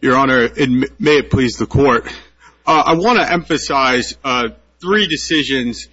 Your Honor, and may it please the Court, I want to emphasize three decisions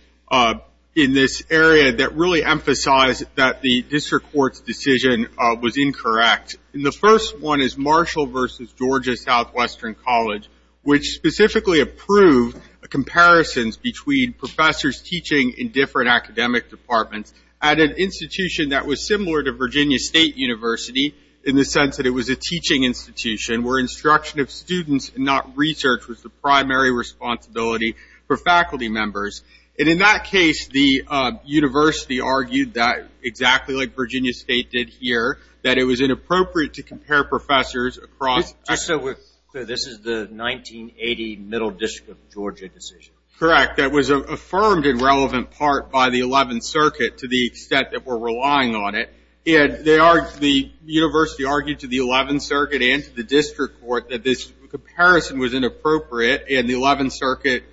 in this area that really emphasize that the District Court's decision was incorrect. The first one is Marshall v. Georgia Southwestern College, which specifically approved comparisons between professors teaching in different academic departments at an institution that was similar to Virginia State University in the sense that it was a teaching institution where instruction of students and not research was the primary responsibility for faculty members. And in that case, the university argued that exactly like Virginia State did here, that it was inappropriate to compare professors across Just so we're clear, this is the 1980 Middle District of Georgia decision. Correct. That was affirmed in relevant part by the 11th Circuit to the extent that we're relying on it. And the university argued to the 11th Circuit and to the District Court that this comparison was inappropriate, and the 11th Circuit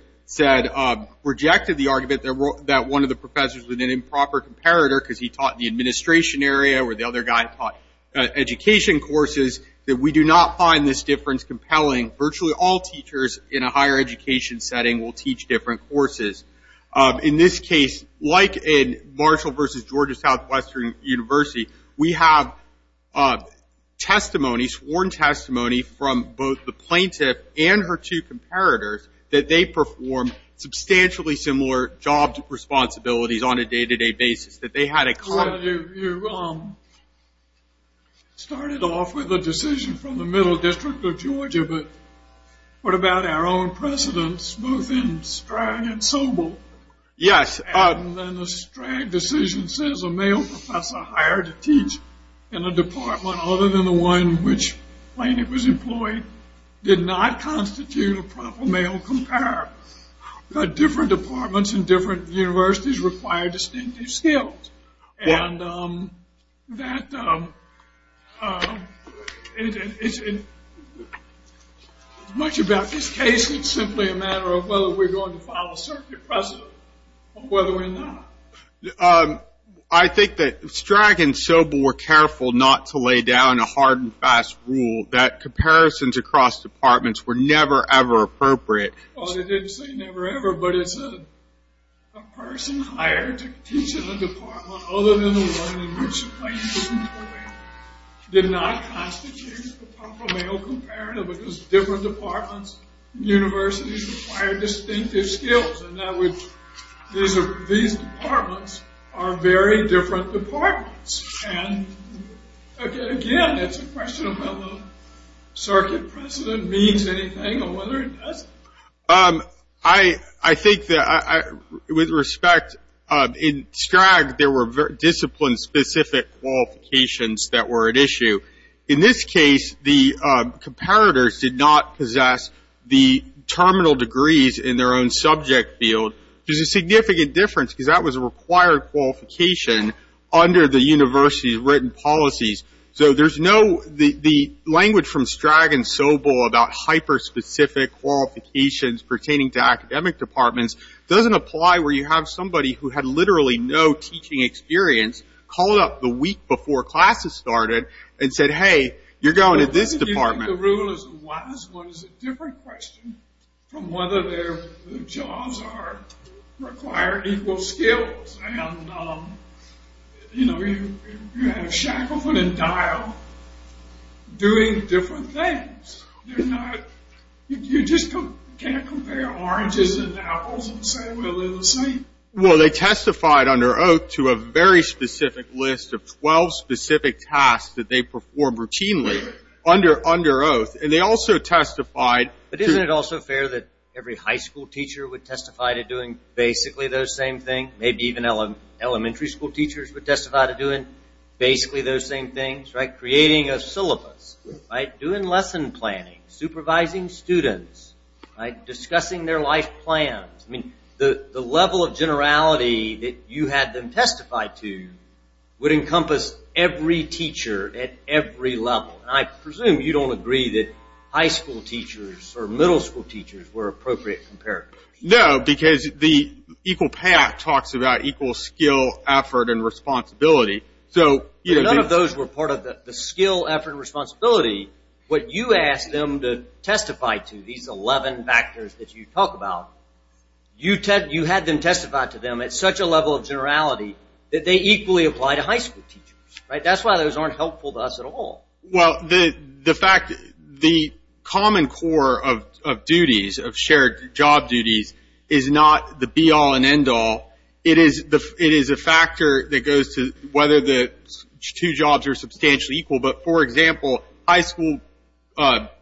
rejected the argument that one of the professors was an improper comparator because he taught in the administration area where the other guy taught education courses, that we do not find this difference compelling. Virtually all teachers in a higher education setting will teach different courses. In this case, like in Marshall v. Georgia Southwestern University, we have sworn testimony from both the plaintiff and her two comparators that they perform substantially similar job responsibilities on a day-to-day basis. You started off with a decision from the Middle District of Georgia, but what about our own precedents, both in Strang and Sobel? Yes. And the Strang decision says a male professor hired to teach in a department other than the one in which the plaintiff was employed did not constitute a proper male comparator. But different departments and different universities require distinctive skills. Much about this case, it's simply a matter of whether we're going to follow a certain precedent or whether we're not. I think that Strang and Sobel were careful not to lay down a hard and fast rule that comparisons across departments were never, ever appropriate. Well, they didn't say never, ever, but it's a person hired to teach in a department other than the one in which the plaintiff was employed did not constitute a proper male comparator because different departments and universities require distinctive skills. And these departments are very different departments. And again, it's a question of whether the circuit precedent means anything or whether it doesn't. I think that with respect, in Strang, there were discipline-specific qualifications that were at issue. In this case, the comparators did not possess the terminal degrees in their own subject field. There's a significant difference because that was a required qualification under the university's written policies. So there's no, the language from Strang and Sobel about hyper-specific qualifications pertaining to academic departments doesn't apply where you have somebody who had literally no teaching experience called up the week before classes started and said, hey, you're going to this department. I think the rule is a wise one. It's a different question from whether their jobs require equal skills. And, you know, you have Shackelford and Dial doing different things. You're not, you just can't compare oranges and apples and say, well, they're the same. Well, they testified under oath to a very specific list of 12 specific tasks that they performed routinely under oath. And they also testified. But isn't it also fair that every high school teacher would testify to doing basically those same things? Maybe even elementary school teachers would testify to doing basically those same things, right? Creating a syllabus, doing lesson planning, supervising students, discussing their life plans. I mean, the level of generality that you had them testify to would encompass every teacher at every level. And I presume you don't agree that high school teachers or middle school teachers were appropriate comparators. No, because the Equal Pay Act talks about equal skill, effort, and responsibility. So none of those were part of the skill, effort, and responsibility. But you asked them to testify to these 11 factors that you talk about. You had them testify to them at such a level of generality that they equally apply to high school teachers, right? That's why those aren't helpful to us at all. Well, the fact, the common core of duties, of shared job duties, is not the be all and end all. It is a factor that goes to whether the two jobs are substantially equal. But, for example, high school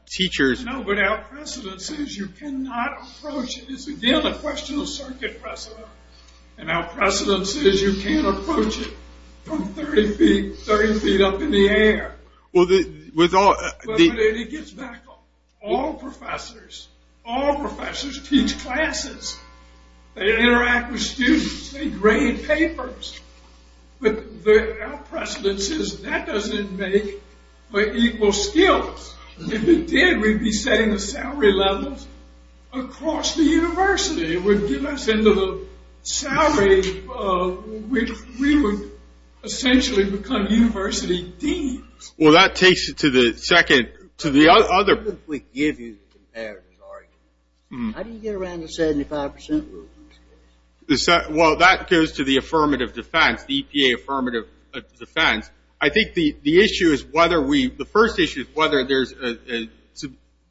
teachers... No, but our precedence is you cannot approach it. It's, again, a question of circuit precedent. And our precedence is you can't approach it from 30 feet, 30 feet up in the air. Well, the... But it gets back up. All professors, all professors teach classes. They interact with students. They grade papers. But our precedence is that doesn't make for equal skills. If it did, we'd be setting the salary levels across the university. It would get us into the salary... We would essentially become university deans. Well, that takes you to the second... To the other... Let me give you the comparison. How do you get around the 75% rule? Well, that goes to the affirmative defense, the EPA affirmative defense. I think the issue is whether we... The first issue is whether there's a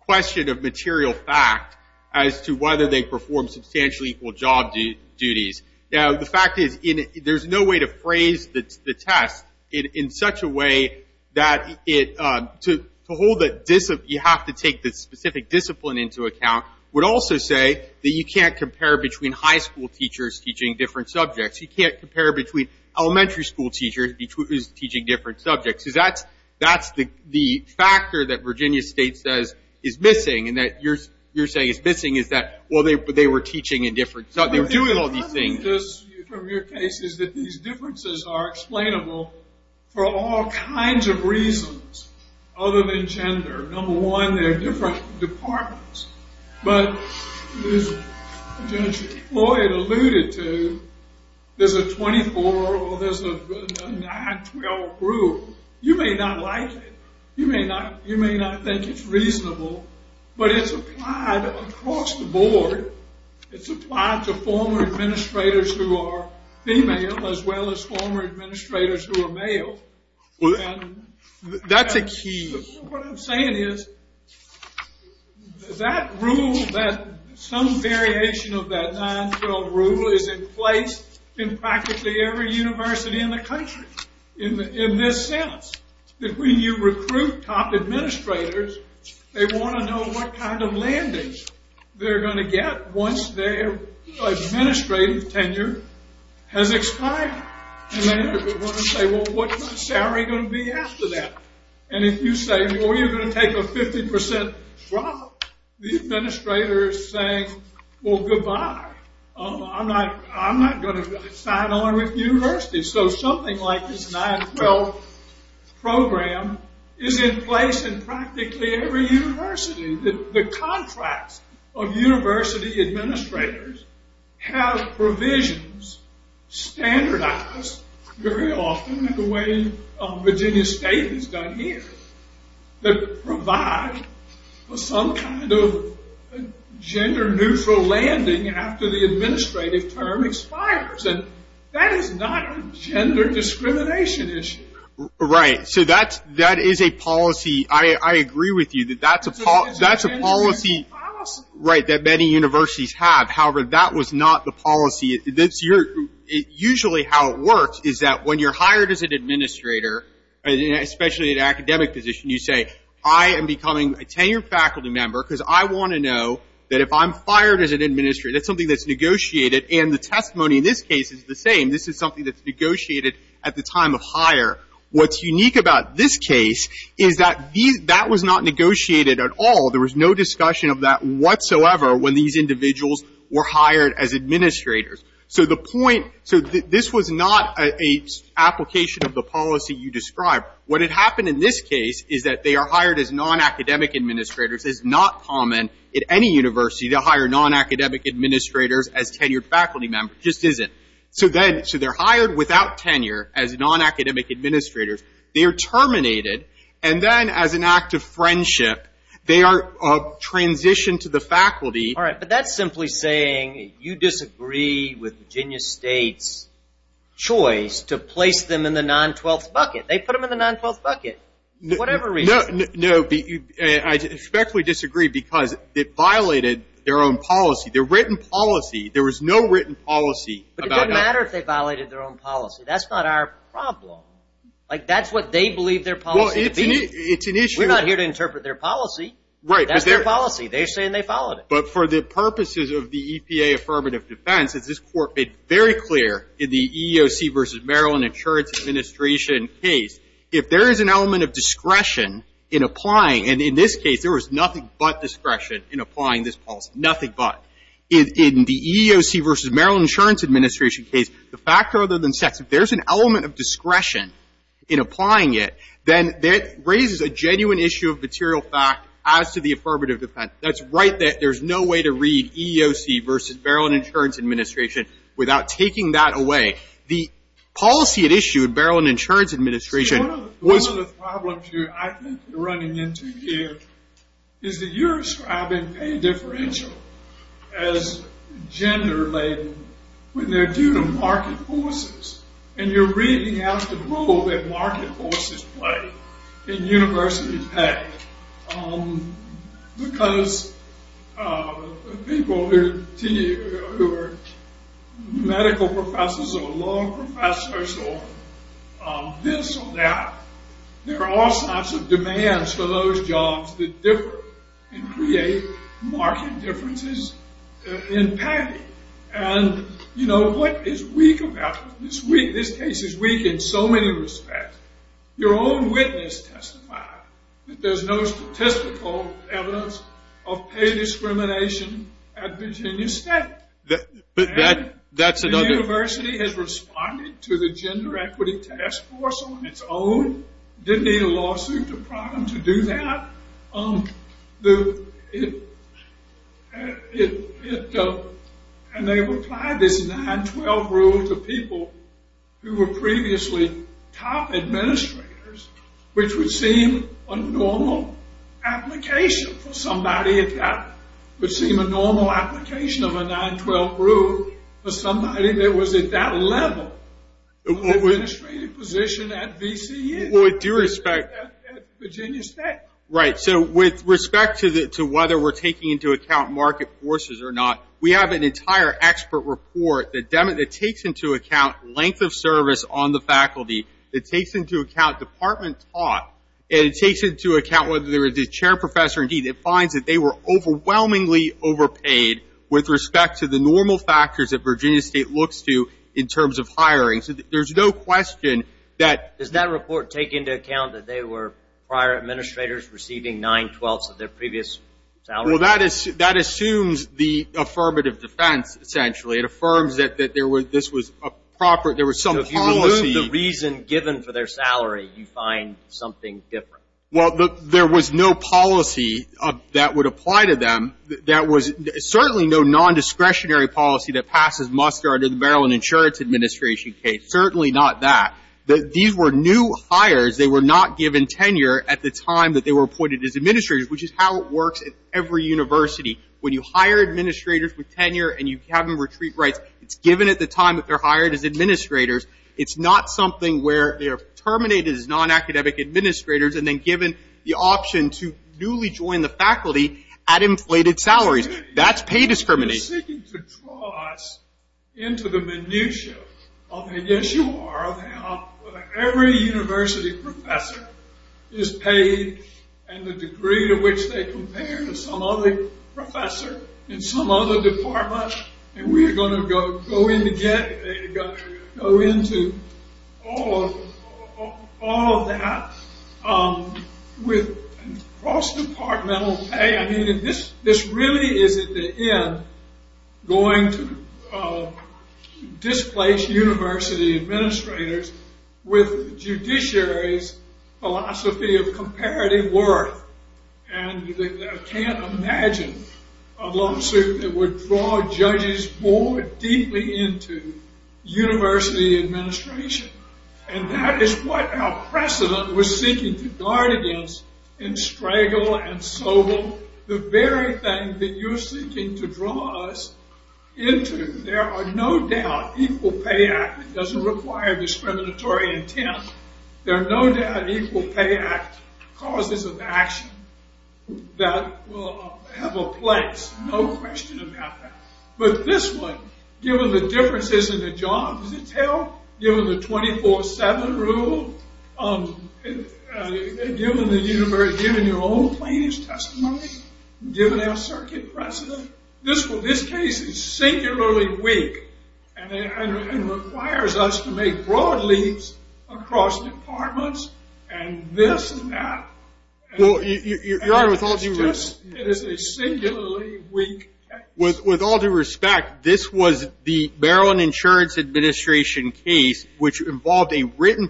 question of material fact as to whether they perform substantially equal job duties. Now, the fact is there's no way to phrase the test in such a way that it... You have to take the specific discipline into account. We'd also say that you can't compare between high school teachers teaching different subjects. You can't compare between elementary school teachers teaching different subjects. That's the factor that Virginia State says is missing and that you're saying is missing, is that, well, they were teaching in different... They were doing all these things. I think this, from your case, is that these differences are explainable for all kinds of reasons other than gender. Number one, they're different departments. But as Lieutenant Chief Floyd alluded to, there's a 24 or there's a 9-12 rule. You may not like it. You may not think it's reasonable. But it's applied across the board. It's applied to former administrators who are female as well as former administrators who are male. And... That's a key... What I'm saying is that rule, that some variation of that 9-12 rule is in place in practically every university in the country in this sense. That when you recruit top administrators, they want to know what kind of landings they're going to get once their administrative tenure has expired. And they want to say, well, what's my salary going to be after that? And if you say, well, you're going to take a 50% drop, the administrator is saying, well, goodbye. I'm not going to sign on with the university. So something like this 9-12 program is in place in practically every university. The contracts of university administrators have provisions standardized very often in the way Virginia State has done here that provide for some kind of gender-neutral landing after the administrative term expires. And that is not a gender discrimination issue. Right. So that is a policy. I agree with you that that's a policy that many universities have. However, that was not the policy. Usually how it works is that when you're hired as an administrator, especially in an academic position, you say, I am becoming a tenured faculty member because I want to know that if I'm fired as an administrator, that's something that's negotiated. And the testimony in this case is the same. This is something that's negotiated at the time of hire. What's unique about this case is that these — that was not negotiated at all. There was no discussion of that whatsoever when these individuals were hired as administrators. So the point — so this was not an application of the policy you described. What had happened in this case is that they are hired as nonacademic administrators. It's not common at any university to hire nonacademic administrators as tenured faculty members. It just isn't. So then — so they're hired without tenure as nonacademic administrators. They are terminated. And then as an act of friendship, they are transitioned to the faculty. All right. But that's simply saying you disagree with Virginia State's choice to place them in the 912th bucket. They put them in the 912th bucket for whatever reason. No. I respectfully disagree because it violated their own policy, their written policy. There was no written policy about that. But it doesn't matter if they violated their own policy. That's not our problem. Like, that's what they believe their policy to be. Well, it's an issue — We're not here to interpret their policy. That's their policy. They're saying they followed it. But for the purposes of the EPA affirmative defense, as this Court made very clear in the EEOC versus Maryland Insurance Administration case, if there is an element of discretion in applying — and in this case, there was nothing but discretion in applying this policy. Nothing but. In the EEOC versus Maryland Insurance Administration case, the fact rather than sex, if there's an element of discretion in applying it, then that raises a genuine issue of material fact as to the affirmative defense. That's right there. There's no way to read EEOC versus Maryland Insurance Administration without taking that away. The policy at issue in Maryland Insurance Administration was — See, one of the problems you're, I think, running into here is that you're describing pay differential as gender-laden when they're due to market forces. And you're reading out the role that market forces play in university pay. Because people who are medical professors or law professors or this or that, there are all sorts of demands for those jobs that differ and create market differences in pay. And, you know, what is weak about this? This case is weak in so many respects. Your own witness testified that there's no statistical evidence of pay discrimination at Virginia State. But that's another — The university has responded to the Gender Equity Task Force on its own. Didn't need a lawsuit to prompt them to do that. And they replied this 9-12 rule to people who were previously top administrators, which would seem a normal application for somebody. It would seem a normal application of a 9-12 rule for somebody that was at that level of administrative position at VCU. With due respect — At Virginia State. Right. So with respect to whether we're taking into account market forces or not, we have an entire expert report that takes into account length of service on the faculty. It takes into account department taught. And it takes into account whether there is a chair professor. Indeed, it finds that they were overwhelmingly overpaid with respect to the normal factors that Virginia State looks to in terms of hiring. So there's no question that — Well, that assumes the affirmative defense, essentially. It affirms that there was — this was a proper — there was some policy — If you remove the reason given for their salary, you find something different. Well, there was no policy that would apply to them. There was certainly no nondiscretionary policy that passes muster under the Beryl and Insurance Administration case. Certainly not that. These were new hires. They were not given tenure at the time that they were appointed as administrators, which is how it works at every university. When you hire administrators with tenure and you have them retreat rights, it's given at the time that they're hired as administrators. It's not something where they are terminated as nonacademic administrators and then given the option to newly join the faculty at inflated salaries. That's pay discrimination. He's seeking to draw us into the minutiae of how every university professor is paid and the degree to which they compare to some other professor in some other department. And we are going to go into all of that with cross-departmental pay. This really is at the end going to displace university administrators with judiciary's philosophy of comparative worth. And I can't imagine a lawsuit that would draw judges more deeply into university administration. And that is what our precedent was seeking to guard against in Stregel and Sobel. The very thing that you're seeking to draw us into. There are no doubt equal pay act, it doesn't require discriminatory intent. There are no doubt equal pay act causes of action that will have a place. No question about that. But this one, given the differences in the job detail, given the 24-7 rule, given your own plaintiff's testimony, given our circuit precedent, this case is singularly weak and requires us to make broad leaps across departments and this and that. Your Honor, with all due respect, this was the Maryland Insurance Administration case which involved a written,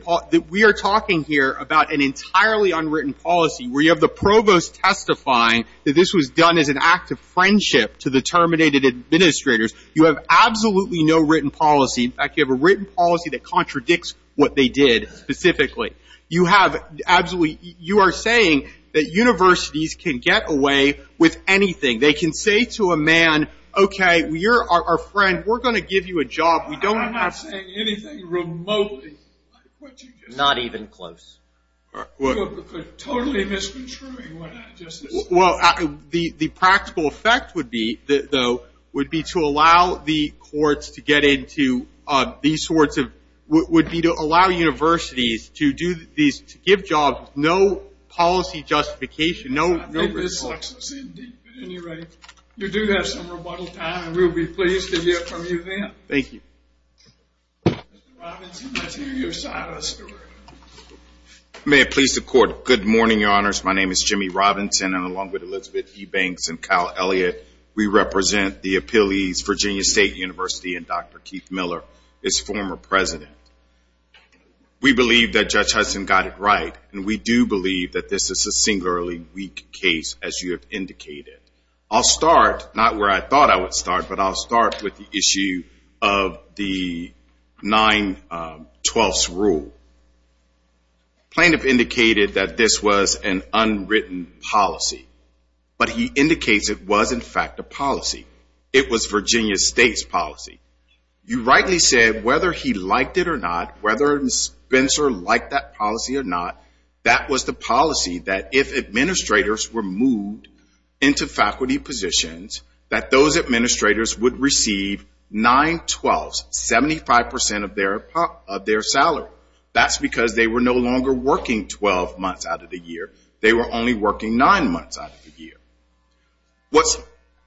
we are talking here about an entirely unwritten policy where you have the provost testifying that this was done as an act of friendship to the terminated administrators. You have absolutely no written policy. In fact, you have a written policy that contradicts what they did specifically. You have absolutely, you are saying that universities can get away with anything. They can say to a man, okay, you're our friend, we're going to give you a job. I'm not saying anything remotely. Not even close. Totally misconstruing what I just said. Well, the practical effect would be, though, would be to allow the courts to get into these sorts of, would be to allow universities to do these, to give jobs with no policy justification, no result. I think this sucks us in deep. At any rate, you do have some rebuttal time, and we'll be pleased to hear from you then. Thank you. Mr. Robinson, let's hear your side of the story. May it please the Court, good morning, Your Honors. My name is Jimmy Robinson, and along with Elizabeth E. Banks and Kyle Elliott, we represent the appellees, Virginia State University, and Dr. Keith Miller is former president. We believe that Judge Hudson got it right, and we do believe that this is a singularly weak case, as you have indicated. I'll start, not where I thought I would start, but I'll start with the issue of the 912th's rule. Plaintiff indicated that this was an unwritten policy, but he indicates it was, in fact, a policy. It was Virginia State's policy. You rightly said whether he liked it or not, whether Spencer liked that policy or not, that was the policy that if administrators were moved into faculty positions, that those administrators would receive 912th's, 75% of their salary. That's because they were no longer working 12 months out of the year. They were only working 9 months out of the year. What's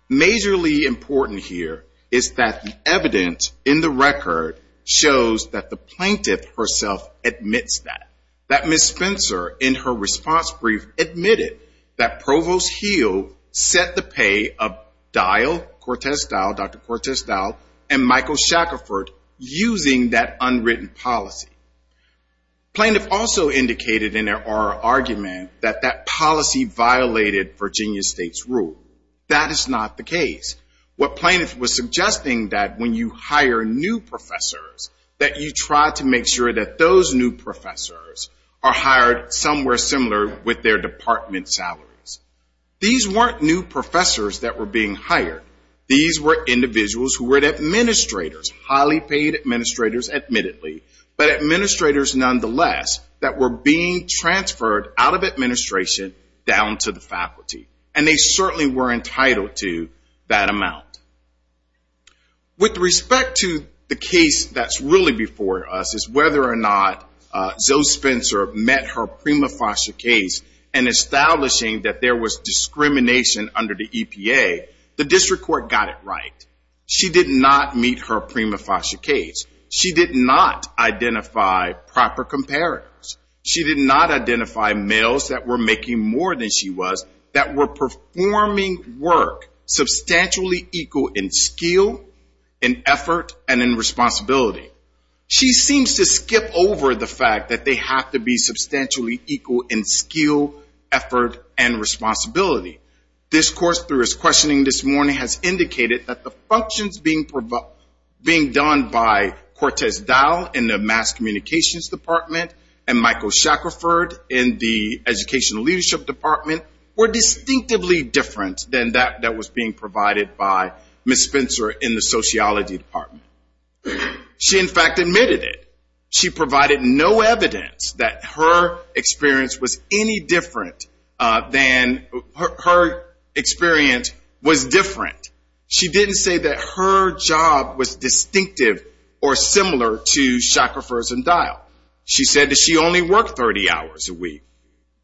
majorly important here is that the evidence in the record shows that the plaintiff herself admits that, that Ms. Spencer, in her response brief, admitted that Provost Heal set the pay of Dial, Cortez Dial, Dr. Cortez Dial, and Michael Shackerford using that unwritten policy. Plaintiff also indicated in their oral argument that that policy violated Virginia State's rule. That is not the case. What plaintiff was suggesting that when you hire new professors, that you try to make sure that those new professors are hired somewhere similar with their department salaries. These weren't new professors that were being hired. These were individuals who were administrators, highly paid administrators admittedly, but administrators nonetheless that were being transferred out of administration down to the faculty. And they certainly were entitled to that amount. With respect to the case that's really before us is whether or not Zoe Spencer met her prima facie case in establishing that there was discrimination under the EPA, the district court got it right. She did not meet her prima facie case. She did not identify proper comparatives. She did not identify males that were making more than she was, that were performing work substantially equal in skill, in effort, and in responsibility. She seems to skip over the fact that they have to be substantially equal in skill, effort, and responsibility. This course through his questioning this morning has indicated that the functions being done by Cortez Dial in the Mass Communications Department and Michael Shackerford in the Educational Leadership Department were distinctively different than that that was being provided by Ms. Spencer in the Sociology Department. She in fact admitted it. She provided no evidence that her experience was any different than her experience was different. She didn't say that her job was distinctive or similar to Shackerford's and Dial. She said that she only worked 30 hours a week.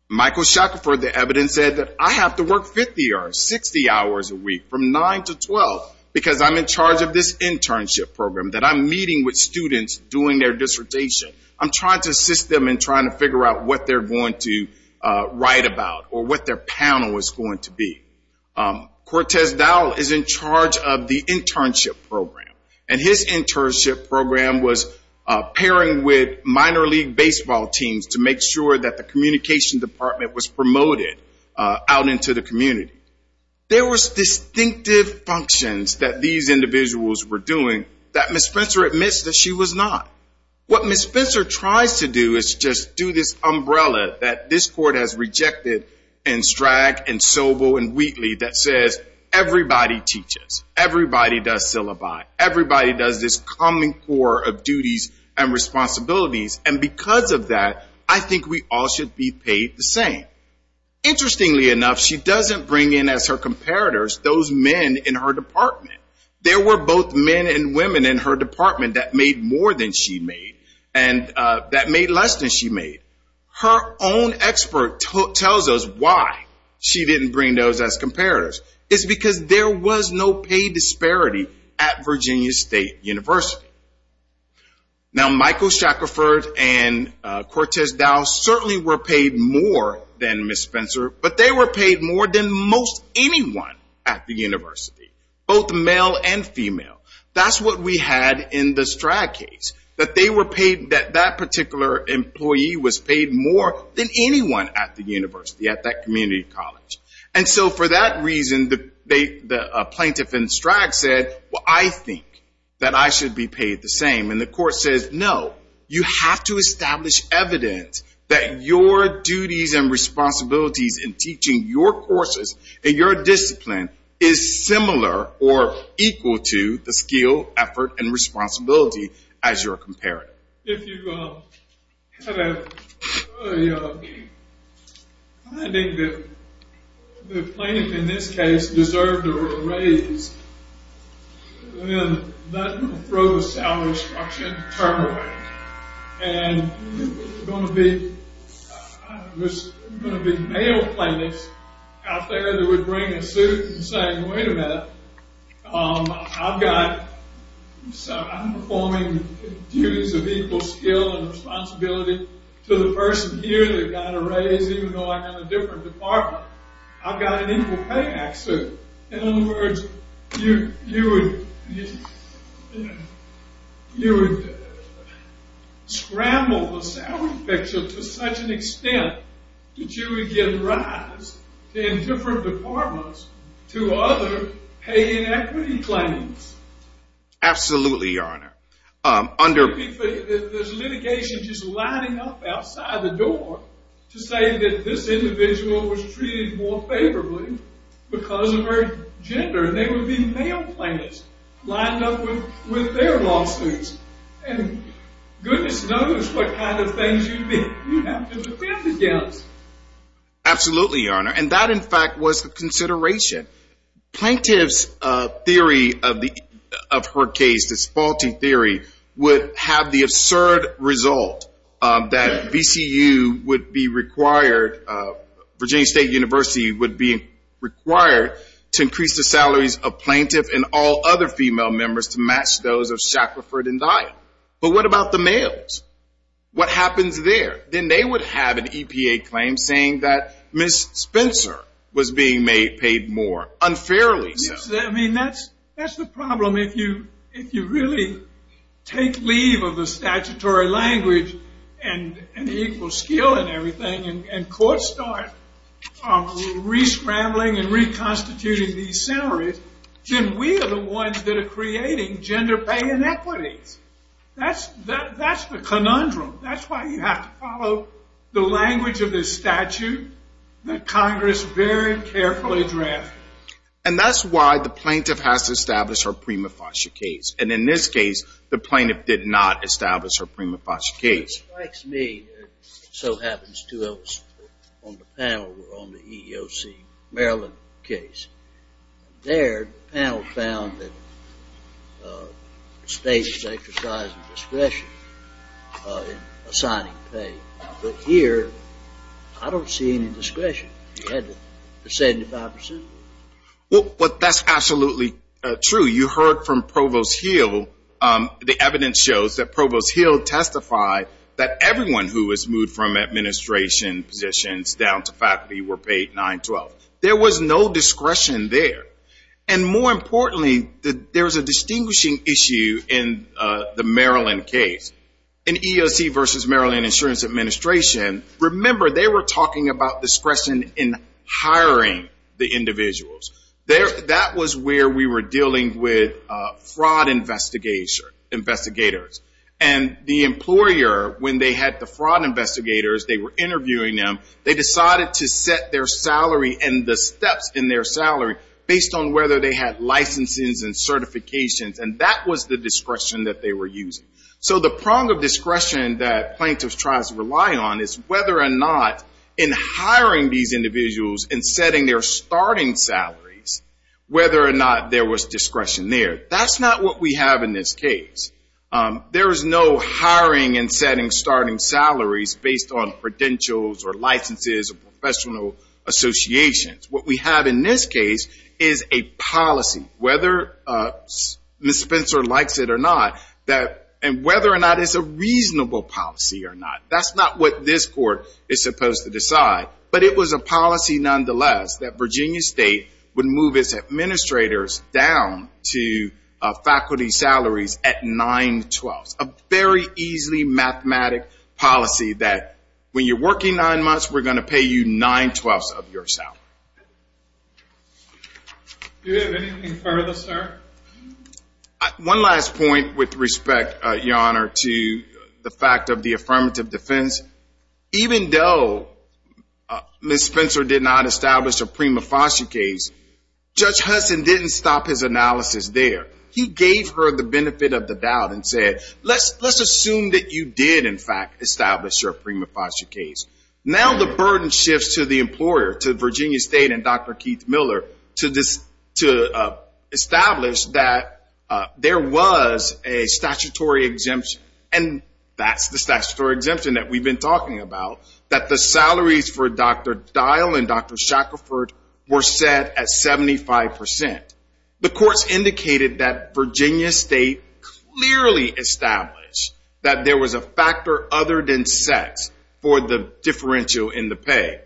Michael Shackerford, the evidence said that I have to work 50 or 60 hours a week from 9 to 12 because I'm in charge of this internship program, that I'm meeting with students doing their dissertation. I'm trying to assist them in trying to figure out what they're going to write about or what their panel is going to be. Cortez Dial is in charge of the internship program, and his internship program was pairing with minor league baseball teams to make sure that the communication department was promoted out into the community. There was distinctive functions that these individuals were doing that Ms. Spencer admits that she was not. What Ms. Spencer tries to do is just do this umbrella that this court has rejected in Stragg and Sobel and Wheatley that says everybody teaches, everybody does syllabi, everybody does this common core of duties and responsibilities, and because of that I think we all should be paid the same. Interestingly enough, she doesn't bring in as her comparators those men in her department. There were both men and women in her department that made more than she made, and that made less than she made. Her own expert tells us why she didn't bring those as comparators. It's because there was no pay disparity at Virginia State University. Now Michael Shackerford and Cortez Dial certainly were paid more than Ms. Spencer, but they were paid more than most anyone at the university. Both male and female. That's what we had in the Stragg case. That they were paid, that that particular employee was paid more than anyone at the university, at that community college. And so for that reason, the plaintiff in Stragg said, well I think that I should be paid the same. And the court says no, you have to establish evidence that your duties and responsibilities in teaching your courses and your discipline is similar or equal to the skill, effort, and responsibility as your comparator. If you have a finding that the plaintiff in this case deserved a raise, then I'm not going to throw the salary structure into turmoil. And there's going to be male plaintiffs out there that would bring a suit and say, wait a minute, I've got, I'm performing duties of equal skill and responsibility to the person here that got a raise even though I'm in a different department. I've got an equal pay act suit. In other words, you would scramble the salary picture to such an extent that you would give rise in different departments to other pay inequity claims. Absolutely, Your Honor. There's litigation just lining up outside the door to say that this individual was treated more favorably because of her gender. And there would be male plaintiffs lining up with their lawsuits. And goodness knows what kind of things you'd have to defend against. Absolutely, Your Honor. And that, in fact, was the consideration. Plaintiff's theory of her case, this faulty theory, would have the absurd result that VCU would be required, Virginia State University would be required, to increase the salaries of plaintiff and all other female members to match those of Shackelford and Dye. But what about the males? What happens there? Then they would have an EPA claim saying that Ms. Spencer was being paid more unfairly. I mean, that's the problem. If you really take leave of the statutory language and the equal skill and everything and courts start re-scrambling and reconstituting these salaries, then we are the ones that are creating gender pay inequities. That's the conundrum. That's why you have to follow the language of this statute that Congress very carefully drafted. And that's why the plaintiff has to establish her prima facie case. And in this case, the plaintiff did not establish her prima facie case. It strikes me, and so happens to us on the panel on the EEOC Maryland case. There, the panel found that the state was exercising discretion in assigning pay. But here, I don't see any discretion. The 75 percent? Well, that's absolutely true. You heard from Provost Hill. The evidence shows that Provost Hill testified that everyone who was moved from administration positions down to faculty were paid $9.12. There was no discretion there. And more importantly, there's a distinguishing issue in the Maryland case. In EEOC versus Maryland Insurance Administration, remember, they were talking about discretion in hiring the individuals. That was where we were dealing with fraud investigators. And the employer, when they had the fraud investigators, they were interviewing them. They decided to set their salary and the steps in their salary based on whether they had licenses and certifications. And that was the discretion that they were using. So the prong of discretion that plaintiffs try to rely on is whether or not in hiring these individuals and setting their starting salaries, whether or not there was discretion there. That's not what we have in this case. There is no hiring and setting starting salaries based on credentials or licenses or professional associations. What we have in this case is a policy, whether Ms. Spencer likes it or not, and whether or not it's a reasonable policy or not. That's not what this court is supposed to decide. But it was a policy, nonetheless, that Virginia State would move its administrators down to faculty salaries at $9.12. A very easily mathematic policy that when you're working nine months, we're going to pay you $9.12 of your salary. Do we have anything further, sir? One last point with respect, Your Honor, to the fact of the affirmative defense. Even though Ms. Spencer did not establish a prima facie case, Judge Hudson didn't stop his analysis there. He gave her the benefit of the doubt and said, let's assume that you did, in fact, establish your prima facie case. Now the burden shifts to the employer, to Virginia State and Dr. Keith Miller, to establish that there was a statutory exemption, and that's the statutory exemption that we've been talking about, that the salaries for Dr. Dial and Dr. Shackelford were set at 75%. The courts indicated that Virginia State clearly established that there was a factor other than sex for the differential in the pay.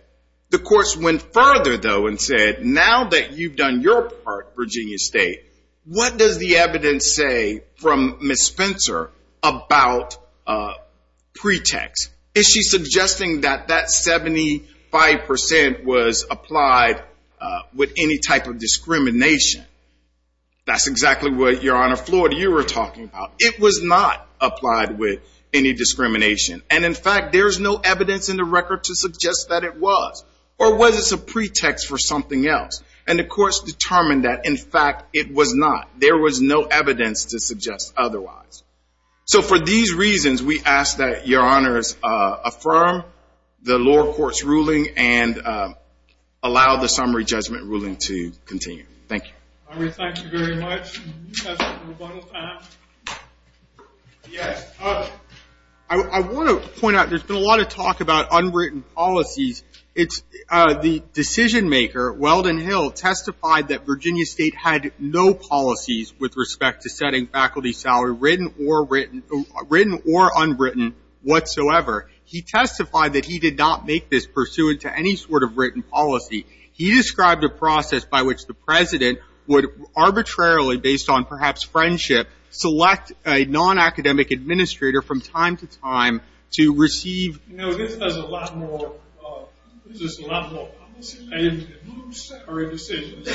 The courts went further, though, and said, now that you've done your part, Virginia State, what does the evidence say from Ms. Spencer about pretext? Is she suggesting that that 75% was applied with any type of discrimination? That's exactly what, Your Honor, Florida, you were talking about. It was not applied with any discrimination, and in fact, there's no evidence in the record to suggest that it was. Or was this a pretext for something else? And the courts determined that, in fact, it was not. There was no evidence to suggest otherwise. So for these reasons, we ask that Your Honors affirm the lower court's ruling and allow the summary judgment ruling to continue. Thank you. Thank you very much. I want to point out, there's been a lot of talk about unwritten policies. The decision-maker, Weldon Hill, testified that Virginia State had no policies with respect to setting faculty salary, written or unwritten, whatsoever. He testified that he did not make this pursuant to any sort of written policy. He described a process by which the President would arbitrarily, based on perhaps friendship, select a non-academic administrator from time to time to receive. You know, this is a lot more policy-based than salary decisions.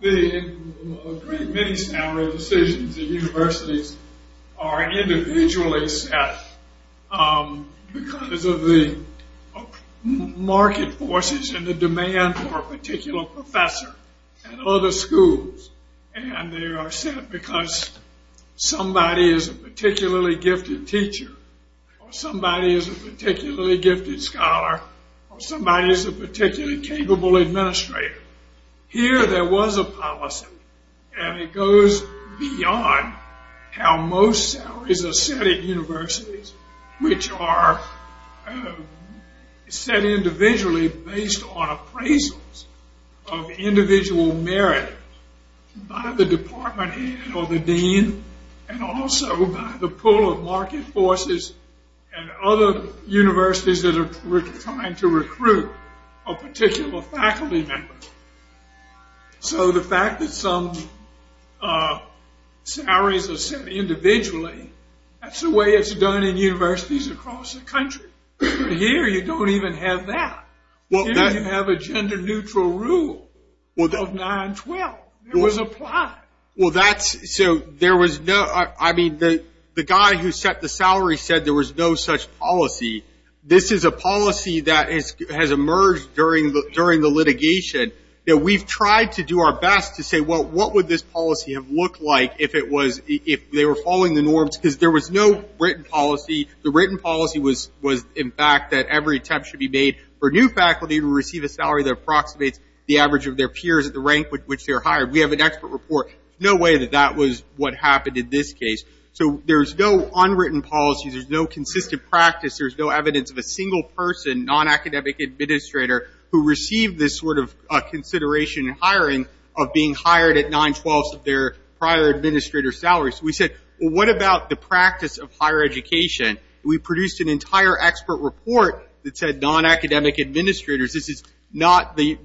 Many salary decisions at universities are individually set because of the market forces and the demand for a particular professor at other schools. And they are set because somebody is a particularly gifted teacher, or somebody is a particularly gifted scholar, or somebody is a particularly capable administrator. Here, there was a policy, and it goes beyond how most salaries are set at universities, which are set individually based on appraisals of individual merit by the department head or the dean, and also by the pull of market forces and other universities that are trying to recruit a particular faculty member. So the fact that some salaries are set individually, that's the way it's done in universities across the country. Here, you don't even have that. Here, you have a gender-neutral rule of 9-12. It was applied. Well, that's – so there was no – I mean, the guy who set the salary said there was no such policy. This is a policy that has emerged during the litigation that we've tried to do our best to say, well, what would this policy have looked like if it was – if they were following the norms? Because there was no written policy. The written policy was, in fact, that every attempt should be made for new faculty to receive a salary that approximates the average of their peers at the rank with which they're hired. We have an expert report. There's no way that that was what happened in this case. So there's no unwritten policy. There's no consistent practice. There's no evidence of a single person, non-academic administrator, who received this sort of consideration in hiring of being hired at 9-12s of their prior administrator salaries. So we said, well, what about the practice of higher education? We produced an entire expert report that said non-academic administrators. This is not the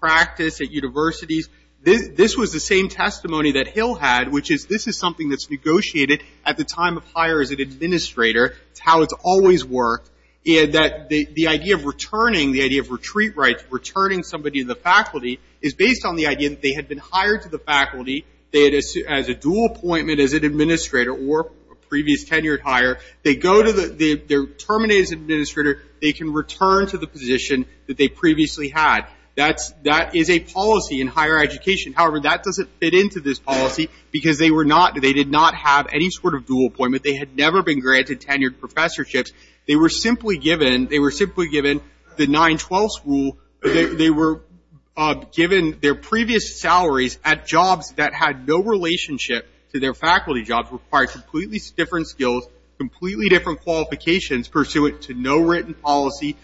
practice at universities. This was the same testimony that Hill had, which is this is something that's negotiated at the time of hire as an administrator. It's how it's always worked. The idea of returning, the idea of retreat rights, returning somebody to the faculty is based on the idea that they had been hired to the faculty. They had a dual appointment as an administrator or a previous tenured hire. They go to the – they're terminated as administrator. They can return to the position that they previously had. That's – that is a policy in higher education. However, that doesn't fit into this policy because they were not – they did not have any sort of dual appointment. They had never been granted tenured professorships. They were simply given – they were simply given the 9-12 school. They were given their previous salaries at jobs that had no relationship to their faculty jobs, required completely different skills, completely different qualifications pursuant to no written policy.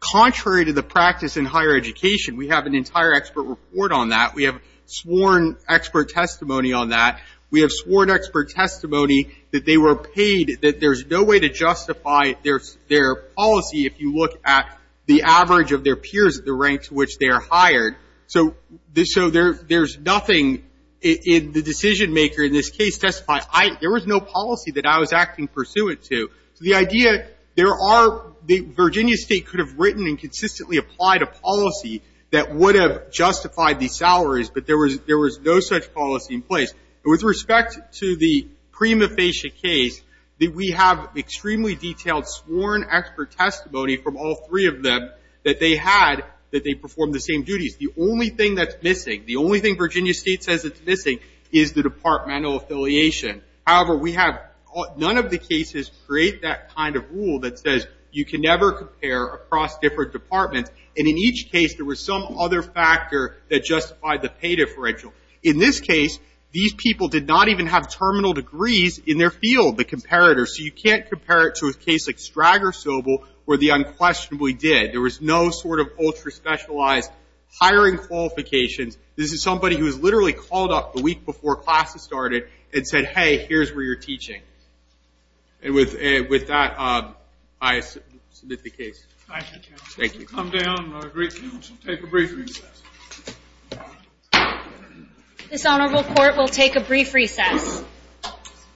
Contrary to the practice in higher education, we have an entire expert report on that. We have sworn expert testimony on that. We have sworn expert testimony that they were paid, that there's no way to justify their policy if you look at the average of their peers at the rank to which they are hired. So there's nothing in the decision maker in this case testifying. There was no policy that I was acting pursuant to. So the idea – there are – Virginia State could have written and consistently applied a policy that would have justified these salaries, but there was no such policy in place. And with respect to the prima facie case, we have extremely detailed sworn expert testimony from all three of them that they had, that they performed the same duties. The only thing that's missing, the only thing Virginia State says it's missing, is the departmental affiliation. However, we have – none of the cases create that kind of rule that says you can never compare across different departments. And in each case, there was some other factor that justified the pay differential. In this case, these people did not even have terminal degrees in their field, the comparators. So you can't compare it to a case like Stragg or Sobel where the unquestionably did. There was no sort of ultra specialized hiring qualifications. This is somebody who was literally called up the week before classes started and said, hey, here's where you're teaching. And with that, I submit the case. Thank you, counsel. Thank you. Come down, great counsel. Take a brief recess. This honorable court will take a brief recess.